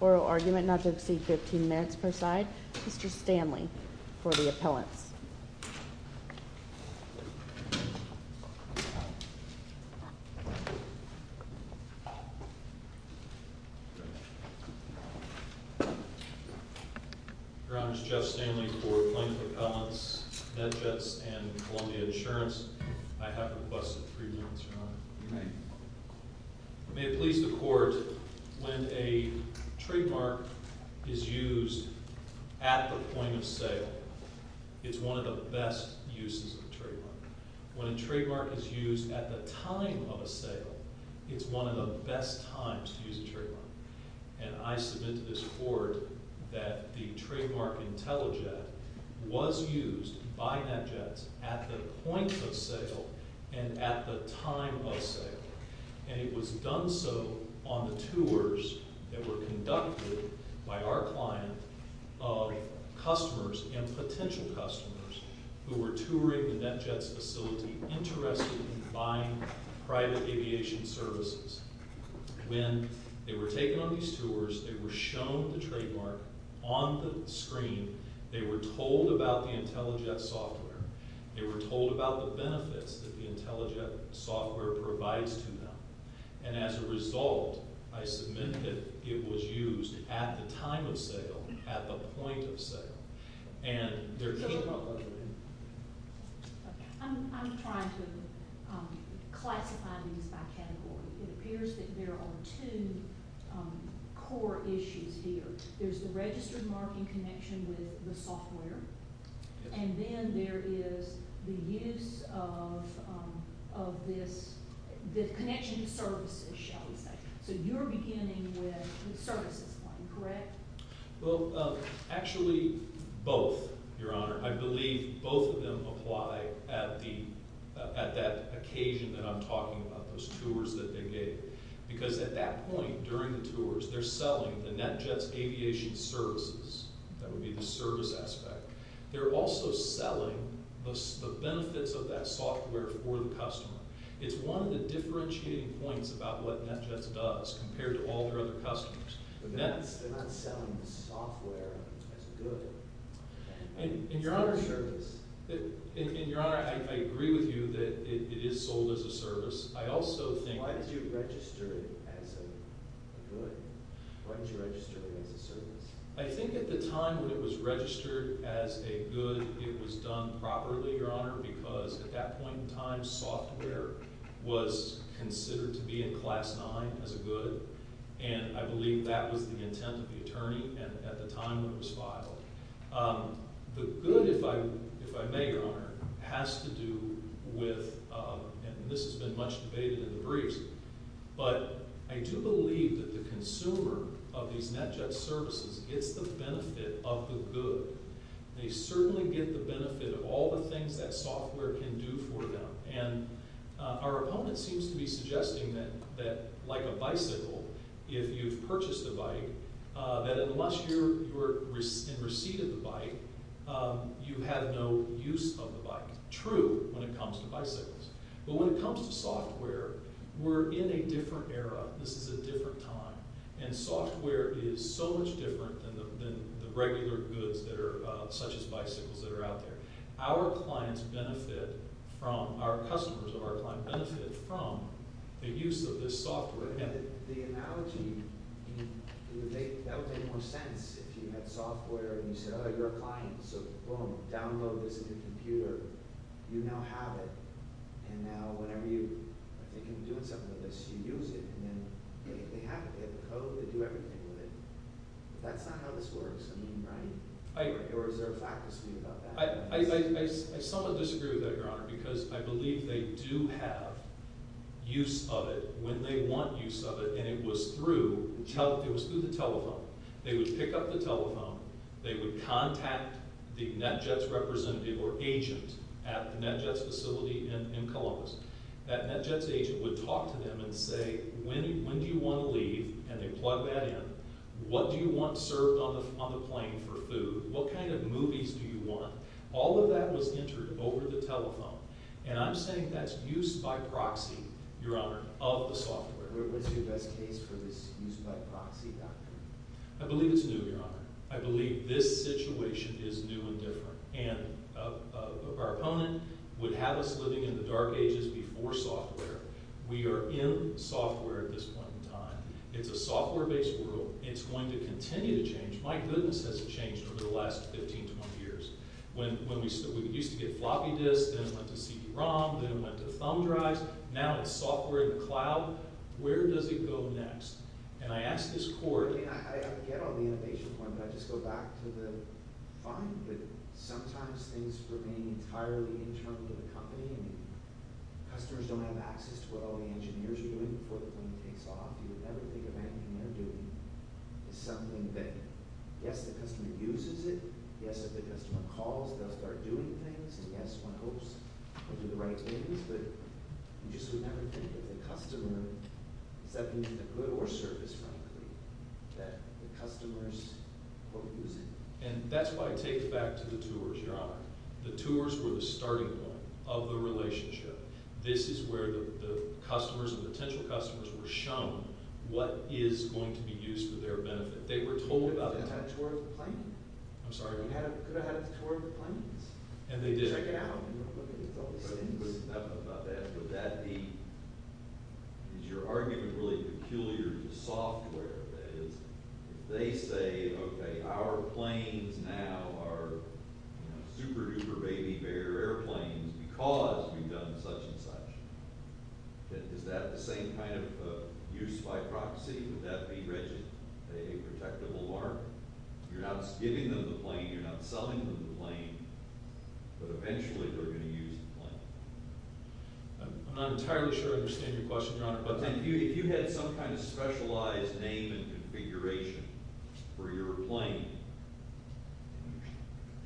Oral argument not to exceed 15 minutes per side. Mr. Stanley for the appellants. Your Honor, it's Jeff Stanley for plaintiff appellants, MedJets, and Columbia Insurance. I have requested three minutes, Your Honor. May it please the Court, when a trademark is used at the point of sale, it's one of the best uses of a trademark. When a trademark is used at the time of a sale, it's one of the best times to use a trademark. And I submit to this Court that the trademark IntelliJet was used by NetJets at the point of sale and at the time of sale. And it was done so on the tours that were conducted by our client of customers and potential customers who were touring the NetJets facility, interested in buying private aviation services. When they were taken on these tours, they were shown the trademark on the screen. They were told about the IntelliJet software. They were told about the benefits that the IntelliJet software provides to them. And as a result, I submit that it was used at the time of sale, at the point of sale. I'm trying to classify these by category. It appears that there are two core issues here. There's the registered marking connection with the software, and then there is the use of this connection to services, shall we say. So you're beginning with the services one, correct? Well, actually both, Your Honor. I believe both of them apply at that occasion that I'm talking about, those tours that they made. Because at that point during the tours, they're selling the NetJets aviation services. That would be the service aspect. They're also selling the benefits of that software for the customer. It's one of the differentiating points about what NetJets does compared to all their other customers. They're not selling the software as a good. It's a service. And Your Honor, I agree with you that it is sold as a service. I also think… Why did you register it as a good? Why did you register it as a service? I think at the time when it was registered as a good, it was done properly, Your Honor, because at that point in time, software was considered to be in Class 9 as a good. And I believe that was the intent of the attorney at the time it was filed. The good, if I may, Your Honor, has to do with – and this has been much debated in the briefs – but I do believe that the consumer of these NetJets services gets the benefit of the good. They certainly get the benefit of all the things that software can do for them. And our opponent seems to be suggesting that, like a bicycle, if you've purchased a bike, that unless you're in receipt of the bike, you have no use of the bike. And that's true when it comes to bicycles. But when it comes to software, we're in a different era. This is a different time. And software is so much different than the regular goods such as bicycles that are out there. Our clients benefit from – our customers, our clients benefit from the use of this software. But the analogy – that would make more sense if you had software and you said, oh, you're a client. So boom, download this into your computer. You now have it. And now whenever you are thinking of doing something with this, you use it. And then they have it. They have the code. They do everything with it. But that's not how this works. I mean, right? Or is there a fact to speak about that? I somewhat disagree with that, Your Honor, because I believe they do have use of it when they want use of it. And it was through the telephone. They would pick up the telephone. They would contact the NETJETS representative or agent at the NETJETS facility in Columbus. That NETJETS agent would talk to them and say, when do you want to leave? And they plug that in. What do you want served on the plane for food? What kind of movies do you want? All of that was entered over the telephone. And I'm saying that's use by proxy, Your Honor, of the software. What's your best case for this use by proxy doctrine? I believe it's new, Your Honor. I believe this situation is new and different. And our opponent would have us living in the dark ages before software. We are in software at this point in time. It's a software-based world. It's going to continue to change. My goodness has it changed over the last 15 to 20 years. When we used to get floppy disks, then it went to CD-ROM, then it went to thumb drives. Now it's software in the cloud. Where does it go next? And I ask this court. I get all the innovation points, but I just go back to the fine. But sometimes things remain entirely internal to the company. Customers don't have access to what all the engineers are doing before the plane takes off. You would never think of anything they're doing as something that, yes, the customer uses it. Yes, if the customer calls, they'll start doing things. And, yes, one hopes they'll do the right things. But you just would never think that the customer, is that either good or service, frankly, that the customers will use it. And that's why I take it back to the tours, Your Honor. The tours were the starting point of the relationship. This is where the customers and potential customers were shown what is going to be used for their benefit. They were told about it. You could have had a tour of the planes. I'm sorry? You could have had a tour of the planes. And they did. Check it out. I don't know about that. But that would be, is your argument really peculiar to software? If they say, okay, our planes now are super-duper baby bear airplanes because we've done such and such, is that the same kind of use by proxy? Would that be rigid, a protectable market? You're not giving them the plane. You're not selling them the plane. But eventually they're going to use the plane. I'm not entirely sure I understand your question, Your Honor. If you had some kind of specialized name and configuration for your plane,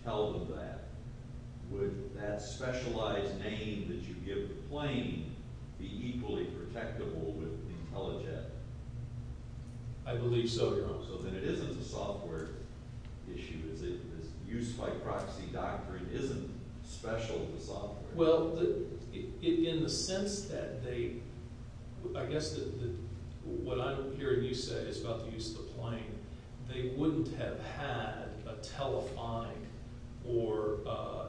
tell them that. Would that specialized name that you give the plane be equally protectable with IntelliJet? I believe so, Your Honor. So then it isn't a software issue, is it? This use by proxy doctrine isn't special to software? Well, in the sense that they – I guess what I'm hearing you say is about the use of the plane. They wouldn't have had a telephonic or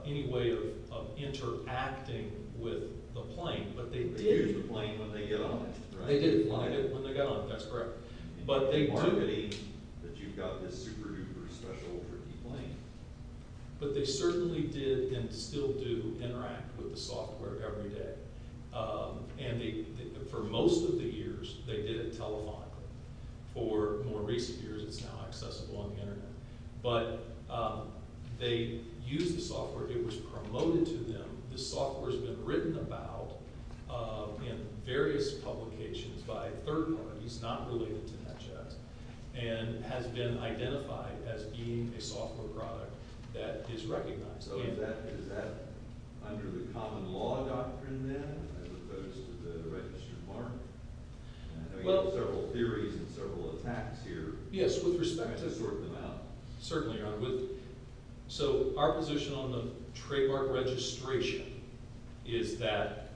any way of interacting with the plane, but they did. They used the plane when they got on it, right? They did when they got on it. That's correct. But they do. But they certainly did and still do interact with the software every day. And for most of the years, they did it telephonically. For more recent years, it's now accessible on the Internet. But they used the software. It was promoted to them. This software has been written about in various publications by third parties not related to NetJet and has been identified as being a software product that is recognized. So is that under the common law doctrine then as opposed to the registered form? I know you have several theories and several attacks here. Yes, with respect to – To sort them out. Certainly, Your Honor. So our position on the trademark registration is that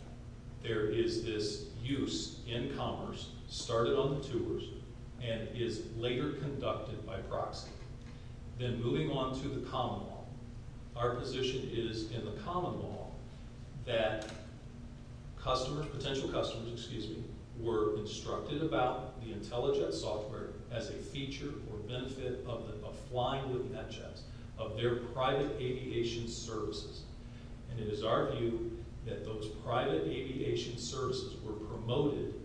there is this use in commerce, started on the tours, and is later conducted by proxy. Then moving on to the common law, our position is in the common law that potential customers were instructed about the IntelliJet software as a feature or benefit of flying with NetJets, of their private aviation services. And it is our view that those private aviation services were promoted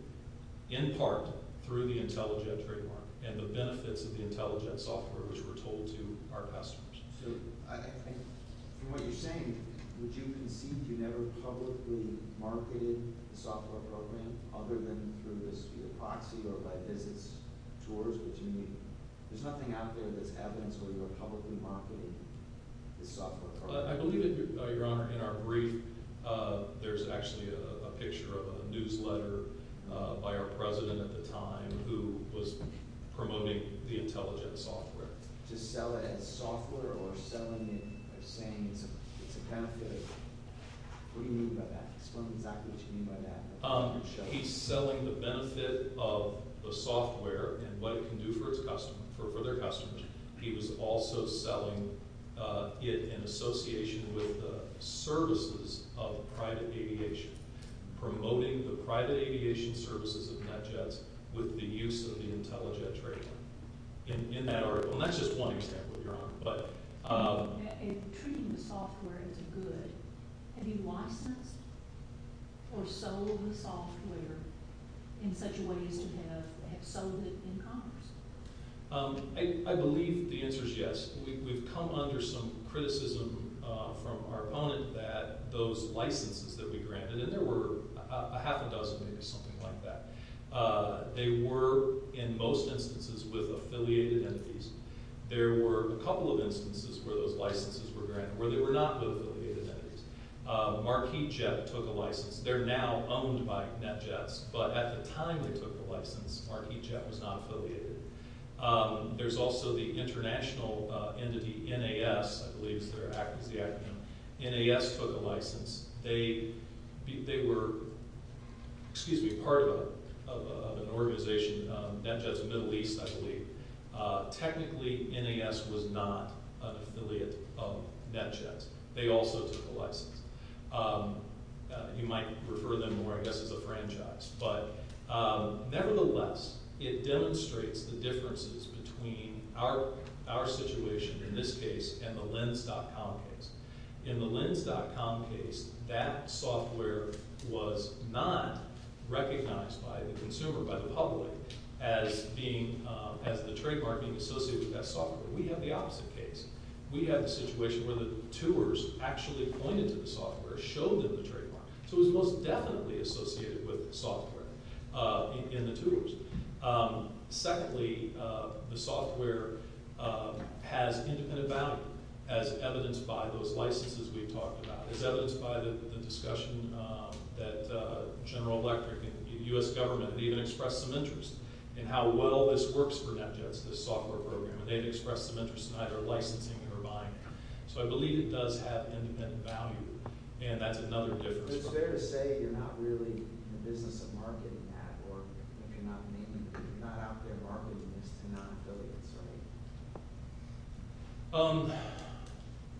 in part through the IntelliJet trademark and the benefits of the IntelliJet software which were told to our customers. So I think from what you're saying, would you concede you never publicly marketed the software program other than through this via proxy or by business tours? Would you – there's nothing out there that's evidence where you're publicly marketing the software program. I believe that, Your Honor, in our brief, there's actually a picture of a newsletter by our president at the time who was promoting the IntelliJet software. To sell it as software or selling it as saying it's a benefit? What do you mean by that? He's selling the benefit of the software and what it can do for their customers. He was also selling it in association with the services of private aviation, promoting the private aviation services of NetJets with the use of the IntelliJet trademark. In that article – and that's just one example, Your Honor. If treating the software as a good, have you licensed or sold the software in such a way as to have sold it in commerce? I believe the answer is yes. We've come under some criticism from our opponent that those licenses that we granted – and there were a half a dozen, maybe something like that. They were, in most instances, with affiliated entities. There were a couple of instances where those licenses were granted, where they were not with affiliated entities. Marquis Jet took a license. They're now owned by NetJets, but at the time they took the license, Marquis Jet was not affiliated. There's also the international entity, NAS, I believe is their acronym. NAS took a license. They were part of an organization, NetJets of the Middle East, I believe. Technically, NAS was not an affiliate of NetJets. They also took a license. You might refer to them more, I guess, as a franchise. But nevertheless, it demonstrates the differences between our situation in this case and the Lens.com case. In the Lens.com case, that software was not recognized by the consumer, by the public, as the trademark being associated with that software. We have the opposite case. We have a situation where the tours actually pointed to the software, showed them the trademark, so it was most definitely associated with the software in the tours. Secondly, the software has independent value, as evidenced by those licenses we've talked about, as evidenced by the discussion that General Electric and the U.S. government have even expressed some interest in how well this works for NetJets, this software program. They've expressed some interest in either licensing or buying it. So I believe it does have independent value, and that's another difference. But it's fair to say you're not really in the business of marketing that, or you're not out there marketing this to non-affiliates, right?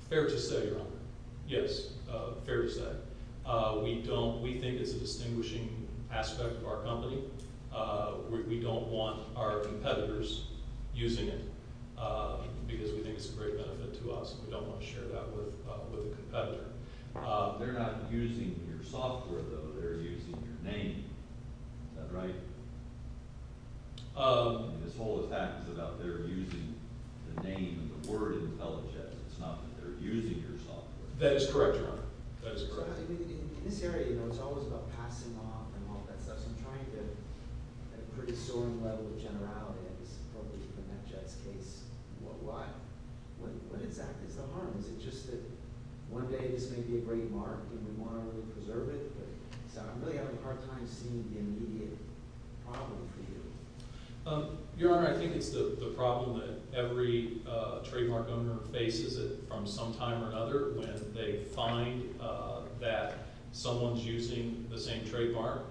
Fair to say, Your Honor. Yes, fair to say. We think it's a distinguishing aspect of our company. We don't want our competitors using it because we think it's a great benefit to us. We don't want to share that with a competitor. They're not using your software, though. They're using your name. Is that right? And this whole attack is about their using the name of the word IntelliJets. It's not that they're using your software. That is correct, Your Honor. That is correct. In this area, you know, it's always about passing off and all that stuff. So I'm trying to, at a pretty soaring level of generality, I guess probably in NetJets' case, what exactly is the harm? Is it just that one day this may be a great mark and we want to preserve it? So I'm really having a hard time seeing the immediate problem for you. Your Honor, I think it's the problem that every trademark owner faces it from some time or another when they find that someone's using the same trademark.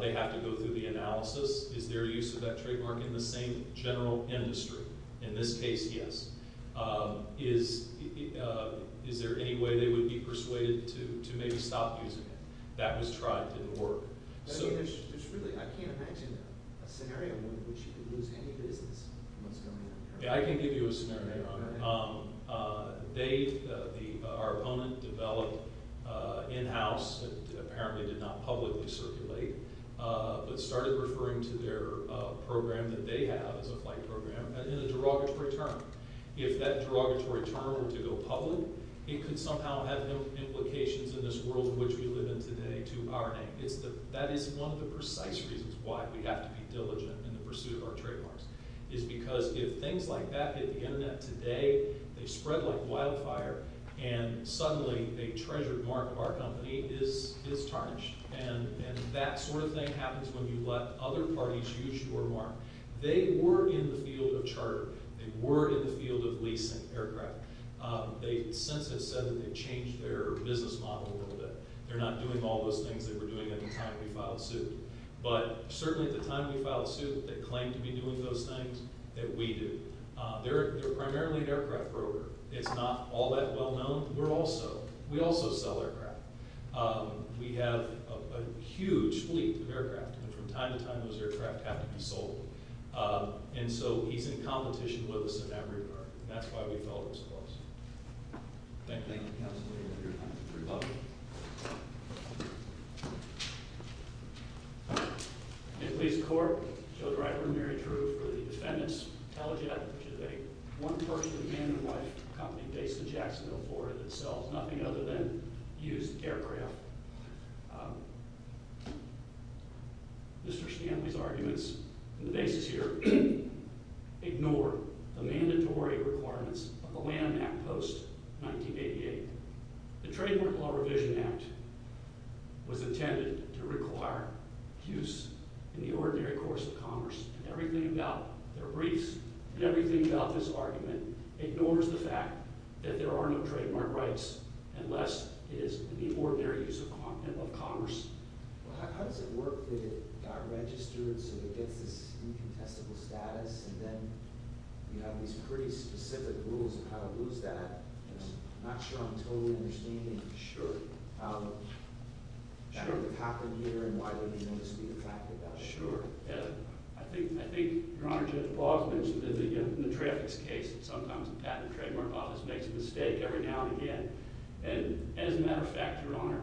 They have to go through the analysis. Is there a use of that trademark in the same general industry? In this case, yes. Is there any way they would be persuaded to maybe stop using it? That was tried. It didn't work. I can't imagine a scenario in which you could lose any business from what's going on here. I can give you a scenario, Your Honor. Our opponent developed in-house, and apparently did not publicly circulate, but started referring to their program that they have as a flight program in a derogatory term. If that derogatory term were to go public, it could somehow have implications in this world in which we live in today to our name. That is one of the precise reasons why we have to be diligent in the pursuit of our trademarks is because if things like that hit the Internet today, they spread like wildfire, and suddenly a treasured mark of our company is tarnished. That sort of thing happens when you let other parties use your mark. They were in the field of charter. They were in the field of leasing aircraft. The Census said that they changed their business model a little bit. They're not doing all those things they were doing at the time we filed suit. But certainly at the time we filed suit, they claimed to be doing those things that we do. They're primarily an aircraft broker. It's not all that well known. We also sell aircraft. We have a huge fleet of aircraft. From time to time, those aircraft have to be sold. And so he's in competition with us in that regard, and that's why we felt it was close. Thank you. Thank you, Counselor. You're welcome. In police court, Joe Driver and Mary True for the defendant's telejet, which is a one-person, man-and-wife company based in Jacksonville, Florida, that sells nothing other than used aircraft. Mr. Stanley's arguments and the basis here ignore the mandatory requirements of the Land Act post-1988. The Trademark Law Revision Act was intended to require use in the ordinary course of commerce. Everything about their briefs and everything about this argument ignores the fact that there are no trademark rights unless it is in the ordinary use of commerce. Well, how does it work that it got registered so it gets this incontestable status, and then you have these pretty specific rules on how to lose that? I'm not sure I'm totally understanding how that would have happened here and why they didn't notice the impact of that. Sure. I think, Your Honor, Judge Paul mentioned in the traffics case that sometimes the Patent and Trademark Office makes a mistake every now and again. And as a matter of fact, Your Honor,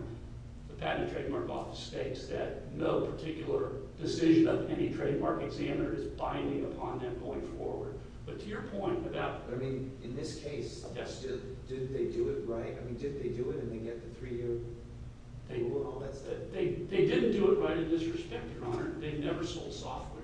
the Patent and Trademark Office states that no particular decision of any trademark examiner is binding upon them going forward. But to your point about— But, I mean, in this case— Yes. Did they do it right? I mean, did they do it and then get the three-year rule? They didn't do it right in this respect, Your Honor. They never sold software.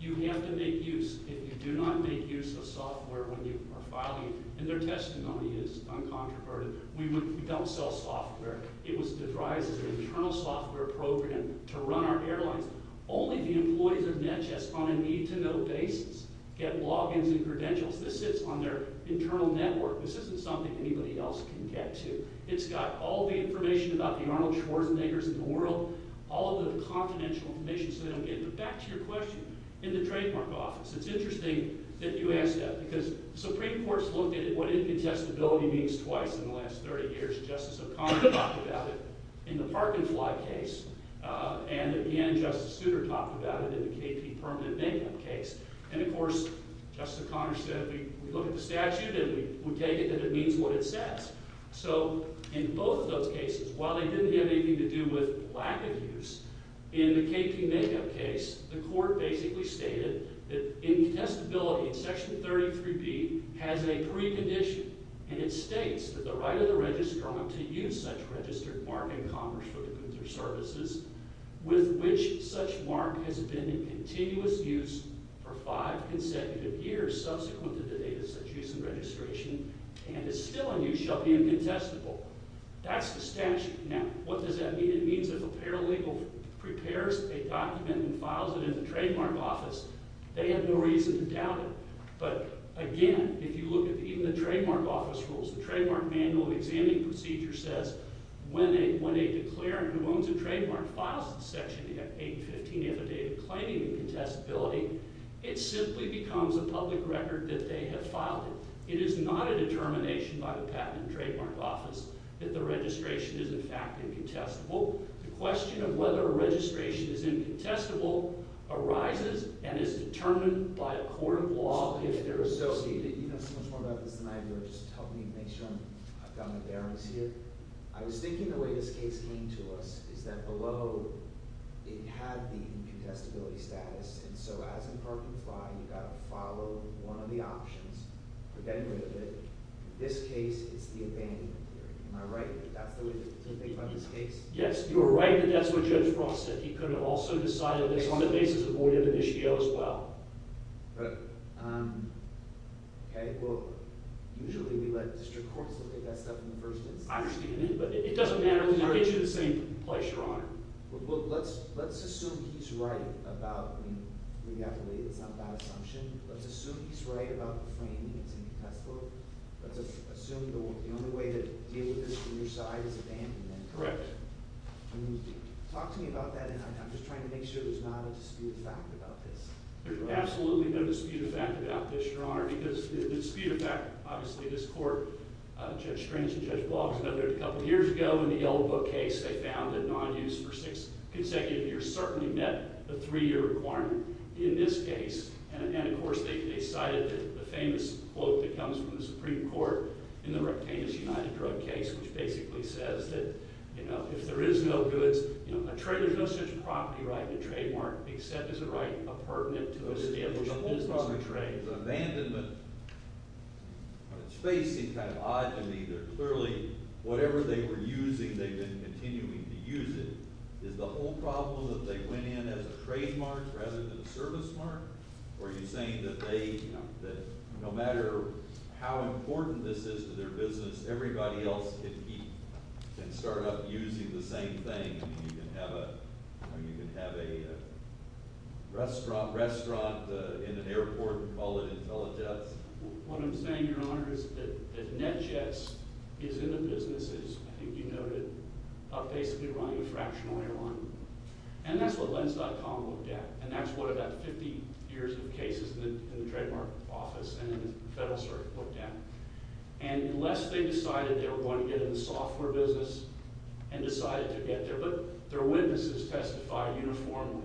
You have to make use. If you do not make use of software when you are filing— and their testimony is uncontroverted. We don't sell software. It was devised as an internal software program to run our airlines. Only the employees of NETJS on a need-to-know basis get logins and credentials. This sits on their internal network. This isn't something anybody else can get to. It's got all the information about the Arnold Schwarzeneggers in the world, all of the confidential information so they don't get it. But back to your question in the Trademark Office. It's interesting that you asked that because the Supreme Court has looked at what incontestability means twice in the last 30 years. Justice O'Connor talked about it in the Park and Fly case. And, again, Justice Souter talked about it in the KP Permanent Banking case. And, of course, Justice O'Connor said we look at the statute and we take it that it means what it says. So in both of those cases, while they didn't have anything to do with lack of use, in the KP Makeup case, the court basically stated that incontestability in Section 33B has a precondition. And it states that the right of the registrar to use such registered mark in commerce for the goods or services with which such mark has been in continuous use for five consecutive years subsequent to the date of such use and registration and is still in use shall be incontestable. That's the statute. Now, what does that mean? It means that if a paralegal prepares a document and files it in the Trademark Office, they have no reason to doubt it. But, again, if you look at even the Trademark Office rules, the Trademark Manual of Examining Procedure says when a declarant who owns a trademark files in Section 815 of a date of claiming incontestability, it simply becomes a public record that they have filed it. It is not a determination by the Patent and Trademark Office that the registration is, in fact, incontestable. The question of whether a registration is incontestable arises and is determined by a court of law if they're associated. You know so much more about this than I do. Just help me make sure I've got my bearings here. I was thinking the way this case came to us is that below it had the incontestability status. And so as in Park and Fly, you've got to follow one of the options for getting rid of it. In this case, it's the abandonment theory. Am I right? That's the way to think about this case? Yes. You are right that that's what Judge Frost said. He could have also decided that this was a basis of void of the NISBO as well. Right. Okay. Well, usually we let district courts look at that stuff in the first instance. I understand that, but it doesn't matter. We can get you to the same place, Your Honor. Well, let's assume he's right about – I mean, it's not a bad assumption. Let's assume he's right about the framing that's incontestable. Let's assume the only way to deal with this from your side is abandonment. Correct. Talk to me about that, and I'm just trying to make sure there's not a disputed fact about this. There's absolutely no disputed fact about this, Your Honor, because the disputed fact – obviously this court, Judge Strange and Judge Block, I know they were there a couple years ago in the Yellow Book case. They found that non-use for six consecutive years certainly met the three-year requirement in this case. And, of course, they cited the famous quote that comes from the Supreme Court in the Rectanus United drug case, which basically says that, you know, if there is no goods – you know, a trade – there's no such property right to trademark except as a right appurtenant to establish a business trade. If abandonment on its face seems kind of odd to me, they're clearly – whatever they were using, they've been continuing to use it. Is the whole problem that they went in as a trademark rather than a service mark, or are you saying that they – that no matter how important this is to their business, everybody else can keep – can start up using the same thing? You can have a – you know, you can have a restaurant in an airport and call it IntelliJets? What I'm saying, Your Honor, is that NetJets is in the business, as I think you noted, of basically running a fractional airline. And that's what Lens.com looked at. And that's what about 50 years of cases in the trademark office and in the Federal Circuit looked at. And unless they decided they were going to get in the software business and decided to get there – but their witnesses testified uniformly.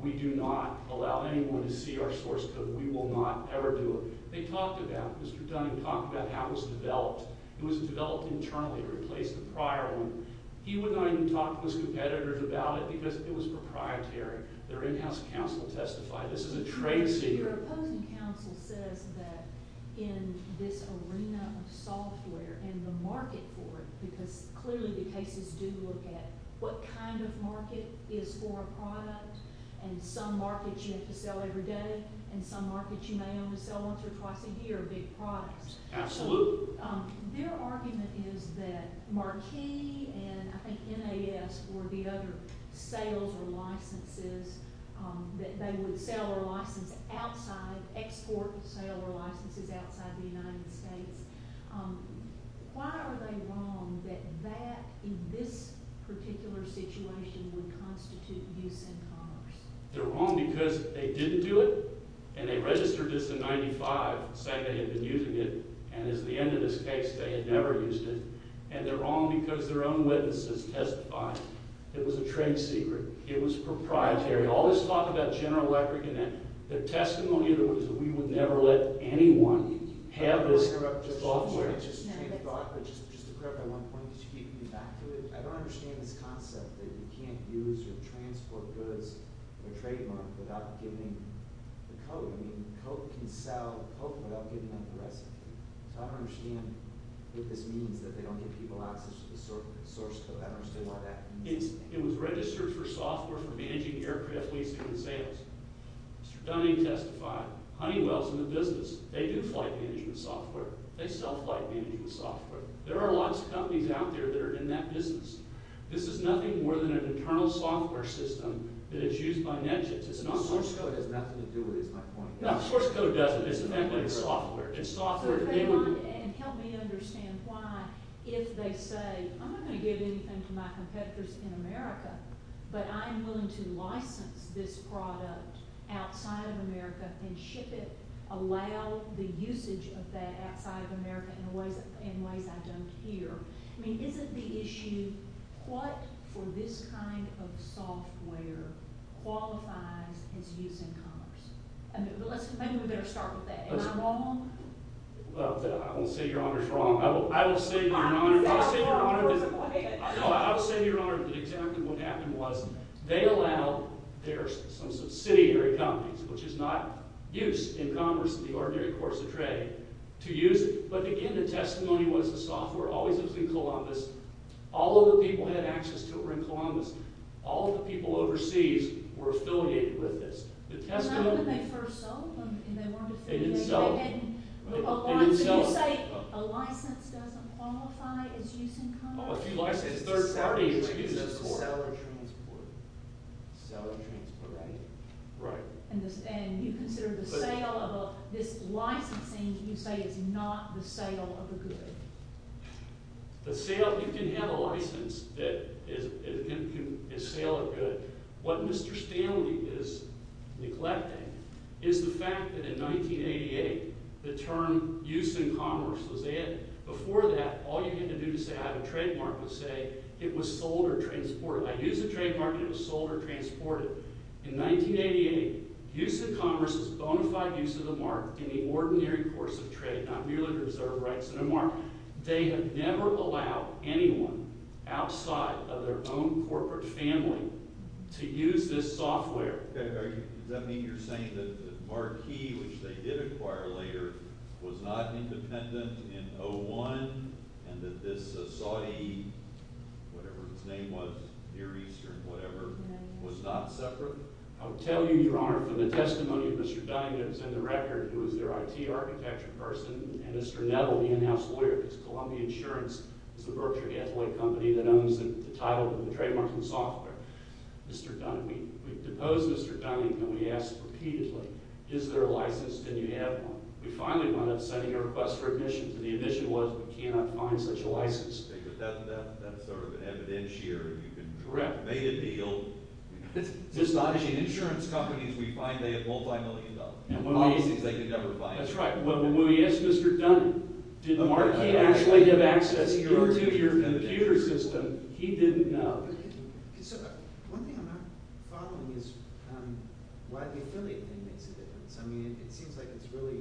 We do not allow anyone to see our source code. We will not ever do it. They talked about – Mr. Dunning talked about how it was developed. It was developed internally, replaced the prior one. He would not even talk to his competitors about it because it was proprietary. Their in-house counsel testified. This is a trade secret. Your opposing counsel says that in this arena of software and the market for it, because clearly the cases do look at what kind of market is for a product. And some markets you have to sell every day, and some markets you may only sell once or twice a year, big products. Absolutely. So their argument is that Marquis and I think NAS were the other sales or licenses. They would sell or license outside – export, sell, or license outside the United States. Why are they wrong that that, in this particular situation, would constitute use in commerce? They're wrong because they didn't do it, and they registered this in 1995, saying they had been using it. And as the end of this case, they had never used it. And they're wrong because their own witnesses testified. It was a trade secret. It was proprietary. All this talk about general etiquette and that. Their testimony, in other words, that we would never let anyone have this software. It was registered for software for managing aircraft leasing and sales. Mr. Dunning testified, Honeywell's in the business. They do flight management software. They sell flight management software. There are lots of companies out there that are in that business. This is nothing more than an internal software system that is used by NetJets. It's not – The source code has nothing to do with it, is my point. No, the source code doesn't. It's the fact that it's software. It's software – And help me understand why, if they say, I'm not going to give anything to my competitors in America, but I'm willing to license this product outside of America and ship it, allow the usage of that outside of America in ways I don't hear. I mean, isn't the issue, what for this kind of software qualifies as using commerce? Maybe we better start with that. Am I wrong? Well, I won't say your honor is wrong. I will say your honor – I will say your honor is – No, I will say your honor that exactly what happened was they allowed their subsidiary companies, which is not used in commerce in the ordinary course of trade, to use it. But, again, the testimony was the software always lives in Columbus. All of the people who had access to it were in Columbus. All of the people overseas were affiliated with this. The testimony – Not when they first sold them, and they weren't affiliated. They didn't sell them. So you say a license doesn't qualify as use in commerce? If you license a third party, it's a seller transport. Seller transport. Right. Right. And you consider the sale of this licensing, you say, is not the sale of the good? The sale – you can have a license that is sale of good. What Mr. Stanley is neglecting is the fact that in 1988, the term use in commerce was added. Before that, all you had to do to say I have a trademark was say it was sold or transported. I use a trademark and it was sold or transported. In 1988, use in commerce is bona fide use of the mark in the ordinary course of trade, not merely to preserve rights and a mark. They have never allowed anyone outside of their own corporate family to use this software. Does that mean you're saying that the marquee, which they did acquire later, was not independent in 01 and that this Saudi – whatever his name was, Near Eastern, whatever – was not separate? I'll tell you, Your Honor, from the testimony of Mr. Dynance and the record, who is their IT architecture person, and Mr. Nettle, the in-house lawyer, because Columbia Insurance is a Berkshire Gatling company that owns the title and the trademarks and software. Mr. Dunn – we've deposed Mr. Dunn, and we asked repeatedly, is there a license? Did you have one? We finally wound up sending a request for admission, and the admission was we cannot find such a license. But that's sort of an evidence here. Correct. You've made a deal. It's astonishing. Insurance companies, we find they have multimillion dollars. That's right. When we asked Mr. Dunn, did the marquee actually give access to your computer system, he didn't know. So one thing I'm not following is why the affiliate thing makes a difference. I mean it seems like it's really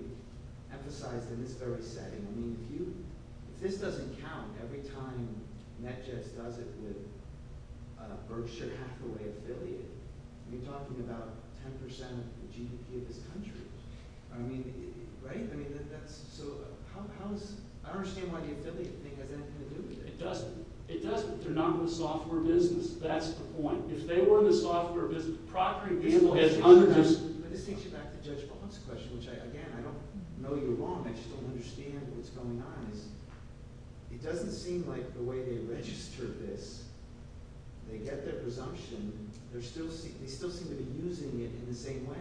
emphasized in this very setting. I mean if you – if this doesn't count every time NetJets does it with a Berkshire Hathaway affiliate, you're talking about 10 percent of the GDP of this country. I mean, right? I mean that's – so how is – I don't understand why the affiliate thing has anything to do with it. It doesn't. It doesn't. They're not in the software business. That's the point. If they were in the software business – But this takes you back to Judge Bond's question, which, again, I don't know you're wrong. I just don't understand what's going on. It doesn't seem like the way they registered this, they get their presumption. They still seem to be using it in the same way.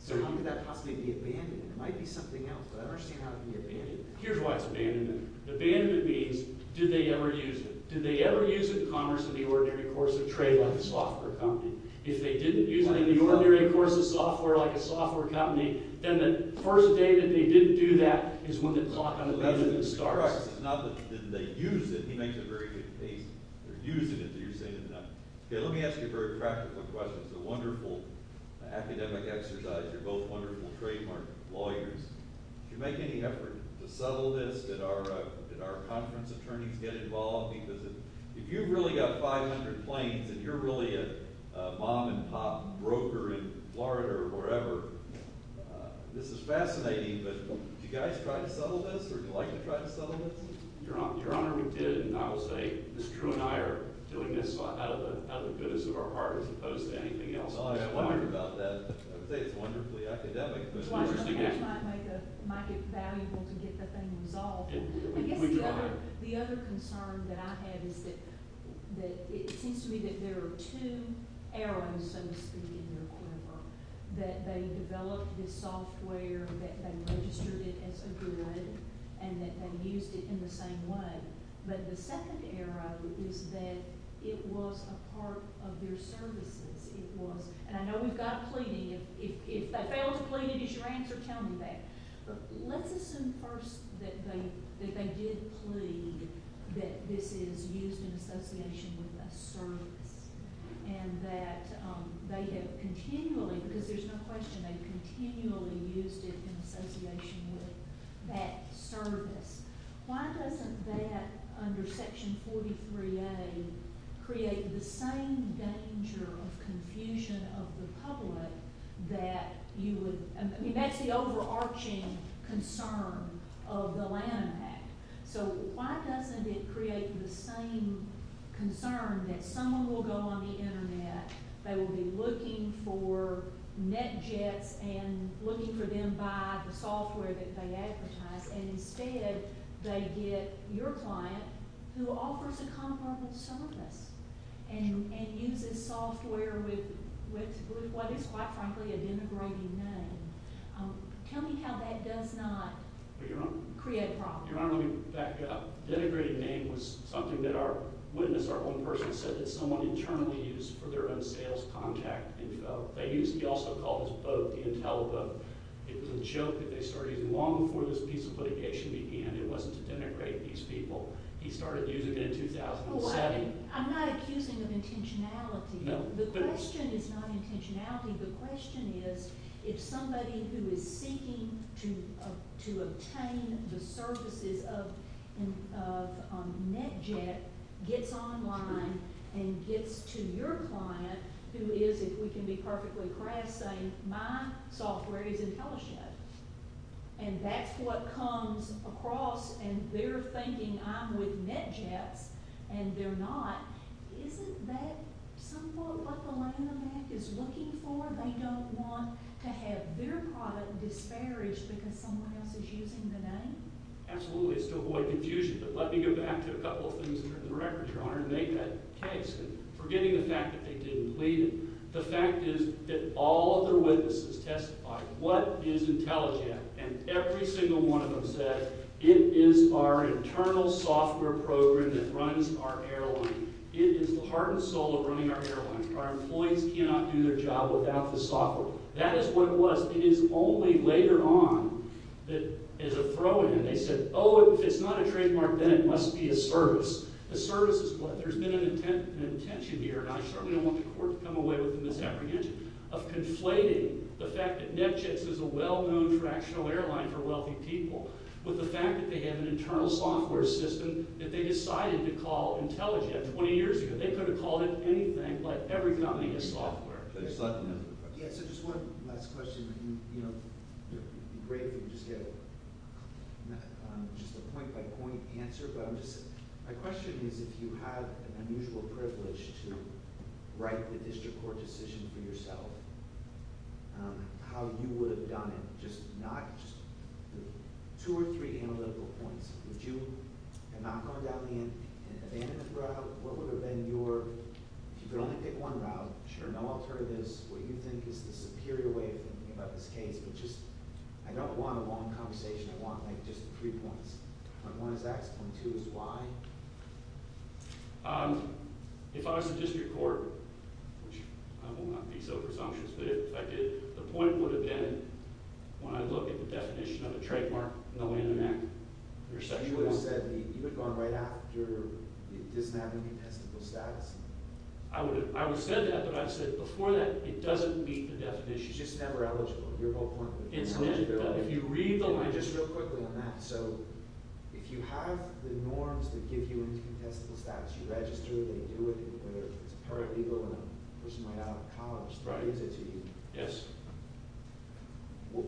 So how could that possibly be abandoned? It might be something else, but I don't understand how it can be abandoned. Here's why it's abandoned. Abandoned means did they ever use it? Did they ever use it in commerce in the ordinary course of trade like a software company? If they didn't use it in the ordinary course of software like a software company, then the first day that they didn't do that is when the clock on the measurement starts. It's not that they didn't use it. He makes a very good case. They're using it. You're saying it now. Okay, let me ask you a very practical question. It's a wonderful academic exercise. You're both wonderful trademark lawyers. Did you make any effort to settle this? Did our conference attorneys get involved? Because if you've really got 500 planes and you're really a mom-and-pop broker in Florida or wherever, this is fascinating, but did you guys try to settle this or would you like to try to settle this? Your Honor, we did. And I will say Ms. True and I are doing this out of the goodness of our hearts as opposed to anything else. I was wondering about that. I would say it's wonderfully academic. It might get valuable to get the thing resolved. I guess the other concern that I have is that it seems to me that there are two arrows, so to speak, in their quiver, that they developed this software, that they registered it as a good, and that they used it in the same way. But the second arrow is that it was a part of their services. It was. And I know we've got a pleading. If I fail to plead and it is your answer, tell me that. But let's assume first that they did plead that this is used in association with a service and that they have continually, because there's no question, they've continually used it in association with that service. Why doesn't that, under Section 43A, create the same danger of confusion of the public that you would? I mean, that's the overarching concern of the Lanham Act. So why doesn't it create the same concern that someone will go on the Internet, they will be looking for NetJets and looking for them by the software that they advertise, and instead they get your client who offers a comparable service and uses software with what is, quite frankly, a denigrating name? Tell me how that does not create problems. Your Honor, let me back up. Denigrating name was something that our witness, our own person, said that someone internally used for their own sales contact. They used it. He also called his boat the Intel boat. It was a joke that they started using long before this piece of litigation began. It wasn't to denigrate these people. He started using it in 2007. No. The question is not intentionality. NetJet gets online and gets to your client who is, if we can be perfectly crass, saying, my software is IntelliJet, and that's what comes across, and they're thinking I'm with NetJets, and they're not. Isn't that somewhat what the Lanham Act is looking for? They don't want to have their product disparaged because someone else is using the name? Absolutely. It's to avoid confusion. But let me go back to a couple of things that are in the record, Your Honor, and make that case, forgetting the fact that they didn't lead it. The fact is that all of their witnesses testified what is IntelliJet, and every single one of them said it is our internal software program that runs our airline. It is the heart and soul of running our airline. Our employees cannot do their job without the software. That is what it was. It is only later on that is a throw-in. They said, oh, if it's not a trademark, then it must be a service. A service is what? There's been an intention here, and I certainly don't want the court to come away with a misapprehension, of conflating the fact that NetJets is a well-known fractional airline for wealthy people with the fact that they have an internal software system that they decided to call IntelliJet 20 years ago. They could have called it anything, but every company has software. Just one last question. It would be great if we could just get a point-by-point answer. My question is if you have an unusual privilege to write the district court decision for yourself, how you would have done it? Just two or three analytical points. Would you have not gone down the abandonment route? What would have been your – if you could only pick one route, no alternatives, what you think is the superior way of thinking about this case? I don't want a long conversation. I want just three points. Point one is X, point two is Y. If I was the district court, which I will not be so presumptuous, but if I did, the point would have been when I look at the definition of a trademark, no way in the neck. You would have said – you would have gone right after it doesn't have any contestable status. I would have said that, but I would have said before that it doesn't meet the definition. It's just never eligible, your whole point. IntelliJet does. If you read the – Just real quickly on that. So if you have the norms that give you incontestable status, you register, they do it, whether it's paralegal or a person right out of college, they raise it to you. Yes. Well,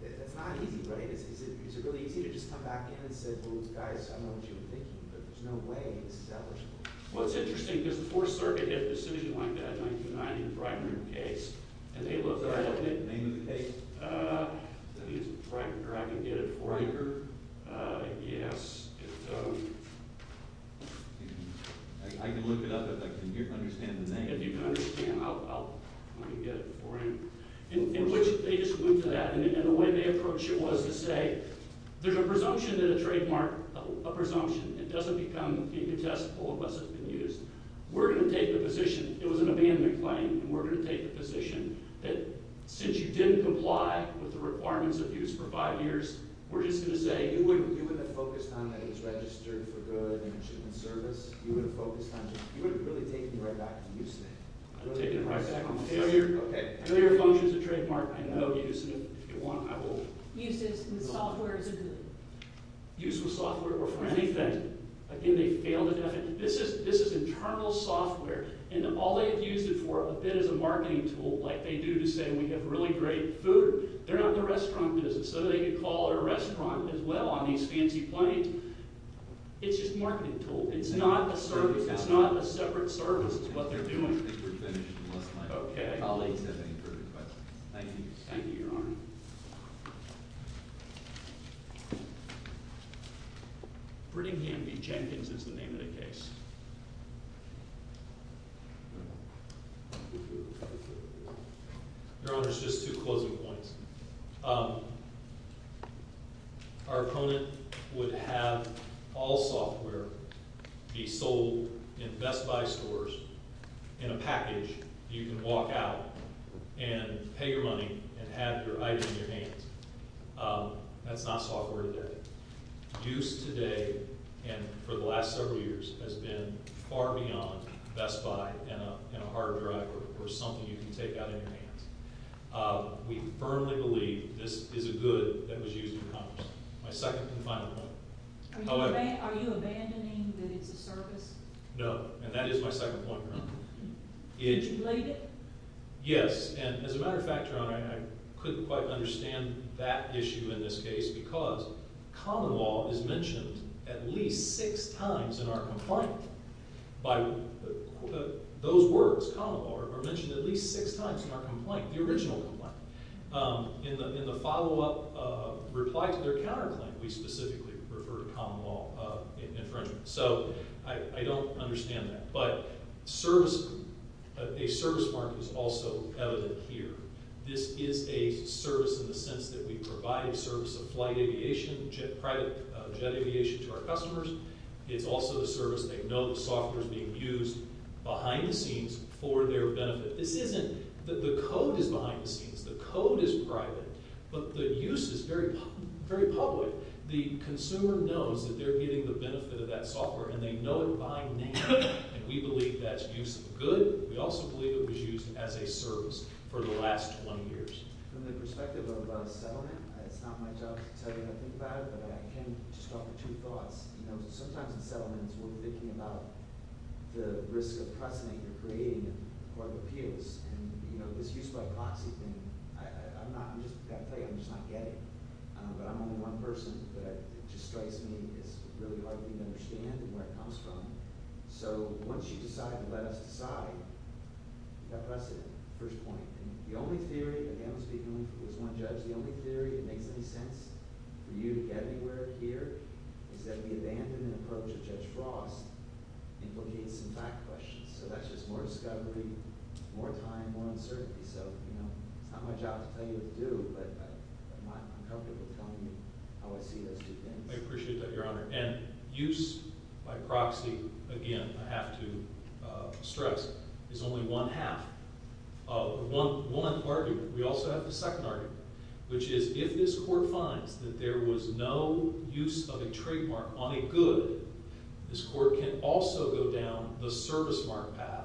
that's not easy, right? Is it really easy to just come back in and say, well, guys, I don't know what you were thinking, but there's no way this is eligible. Well, it's interesting because the Fourth Circuit had a decision like that in 1990, the Breitner case, and they looked at it. Name of the case? I think it's Breitner. I can get it for you. Breitner? Yes. I can look it up if I can understand the name. If you can understand, I'll – let me get it for you. They just went to that, and the way they approached it was to say, there's a presumption and a trademark, a presumption. It doesn't become incontestable unless it's been used. We're going to take the position – it was an abandonment claim, and we're going to take the position that since you didn't comply with the requirements of use for five years, we're just going to say – You wouldn't have focused on that it was registered for good and it should have been service. You wouldn't have focused on that. You would have really taken it right back to use today. I would have taken it right back. Okay. I know your function is a trademark. I know the use of it. If you want, I will – Use is in the software as a good. Use with software or for anything. Again, they failed to – this is internal software, and all they have used it for a bit is a marketing tool like they do to say we have really great food. They're not in the restaurant business, so they could call a restaurant as well on these fancy planes. It's just a marketing tool. It's not a service. It's not a separate service. It's what they're doing. I think we're finished unless my colleagues have any further questions. Thank you. Thank you, Your Honor. Brittany Gamby Jenkins is the name of the case. Your Honor, just two closing points. Our opponent would have all software be sold in Best Buy stores in a package you can walk out and pay your money and have your item in your hands. That's not software today. Use today and for the last several years has been far beyond Best Buy and a hard drive or something you can take out in your hands. We firmly believe this is a good that was used in Congress. My second and final point. Are you abandoning that it's a service? No, and that is my second point, Your Honor. Did you late it? Yes, and as a matter of fact, Your Honor, I couldn't quite understand that issue in this case because common law is mentioned at least six times in our complaint. Those words, common law, are mentioned at least six times in our complaint, the original complaint. In the follow-up reply to their counterclaim, we specifically refer to common law infringement. I don't understand that, but a service mark is also evident here. This is a service in the sense that we provide a service of flight aviation, private jet aviation to our customers. It's also a service. They know the software is being used behind the scenes for their benefit. This isn't that the code is behind the scenes. The code is private, but the use is very public. The consumer knows that they're getting the benefit of that software, and they know it by name, and we believe that's use of good. We also believe it was used as a service for the last 20 years. From the perspective of settlement, it's not my job to tell you how to think about it, but I can just offer two thoughts. Sometimes in settlements, we're thinking about the risk of precedent you're creating in court of appeals, and this use by proxy thing, I'm just not getting. But I'm only one person, but it just strikes me as really hard for me to understand where it comes from. So once you decide to let us decide, you've got precedent, first point. The only theory, again I'm speaking as one judge, the only theory that makes any sense for you to get anywhere here is that the abandonment approach of Judge Frost implicates some fact questions. So that's just more discovery, more time, more uncertainty. So it's not my job to tell you what to do, but I'm comfortable telling you how I see those two things. I appreciate that, Your Honor. And use by proxy, again I have to stress, is only one half of one argument. We also have the second argument, which is if this court finds that there was no use of a trademark on a good, this court can also go down the service mark path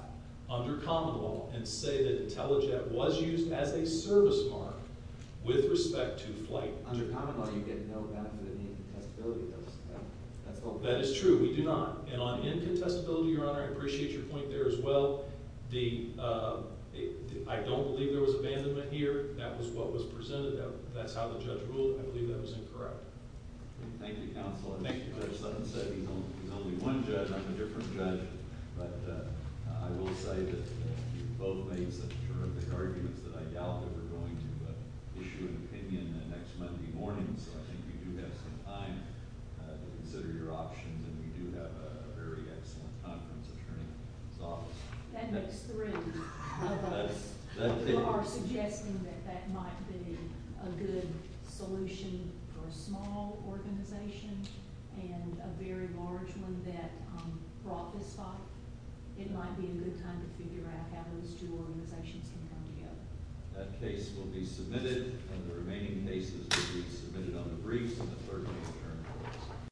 under common law and say that IntelliJet was used as a service mark with respect to flight. But under common law, you get no benefit in incontestability. That is true. We do not. And on incontestability, Your Honor, I appreciate your point there as well. I don't believe there was abandonment here. That was what was presented. That's how the judge ruled. I believe that was incorrect. Thank you, counsel. I think Judge Sutton said he's only one judge. I'm a different judge. But I will say that you both made such terrific arguments that I doubt that we're going to issue an opinion next Monday morning. So I think you do have some time to consider your options, and you do have a very excellent conference attorney in this office. That makes three of us who are suggesting that that might be a good solution for a small organization and a very large one that brought this thought. It might be a good time to figure out how those two organizations can come together. That case will be submitted, and the remaining cases will be submitted on the briefs in the third quarter.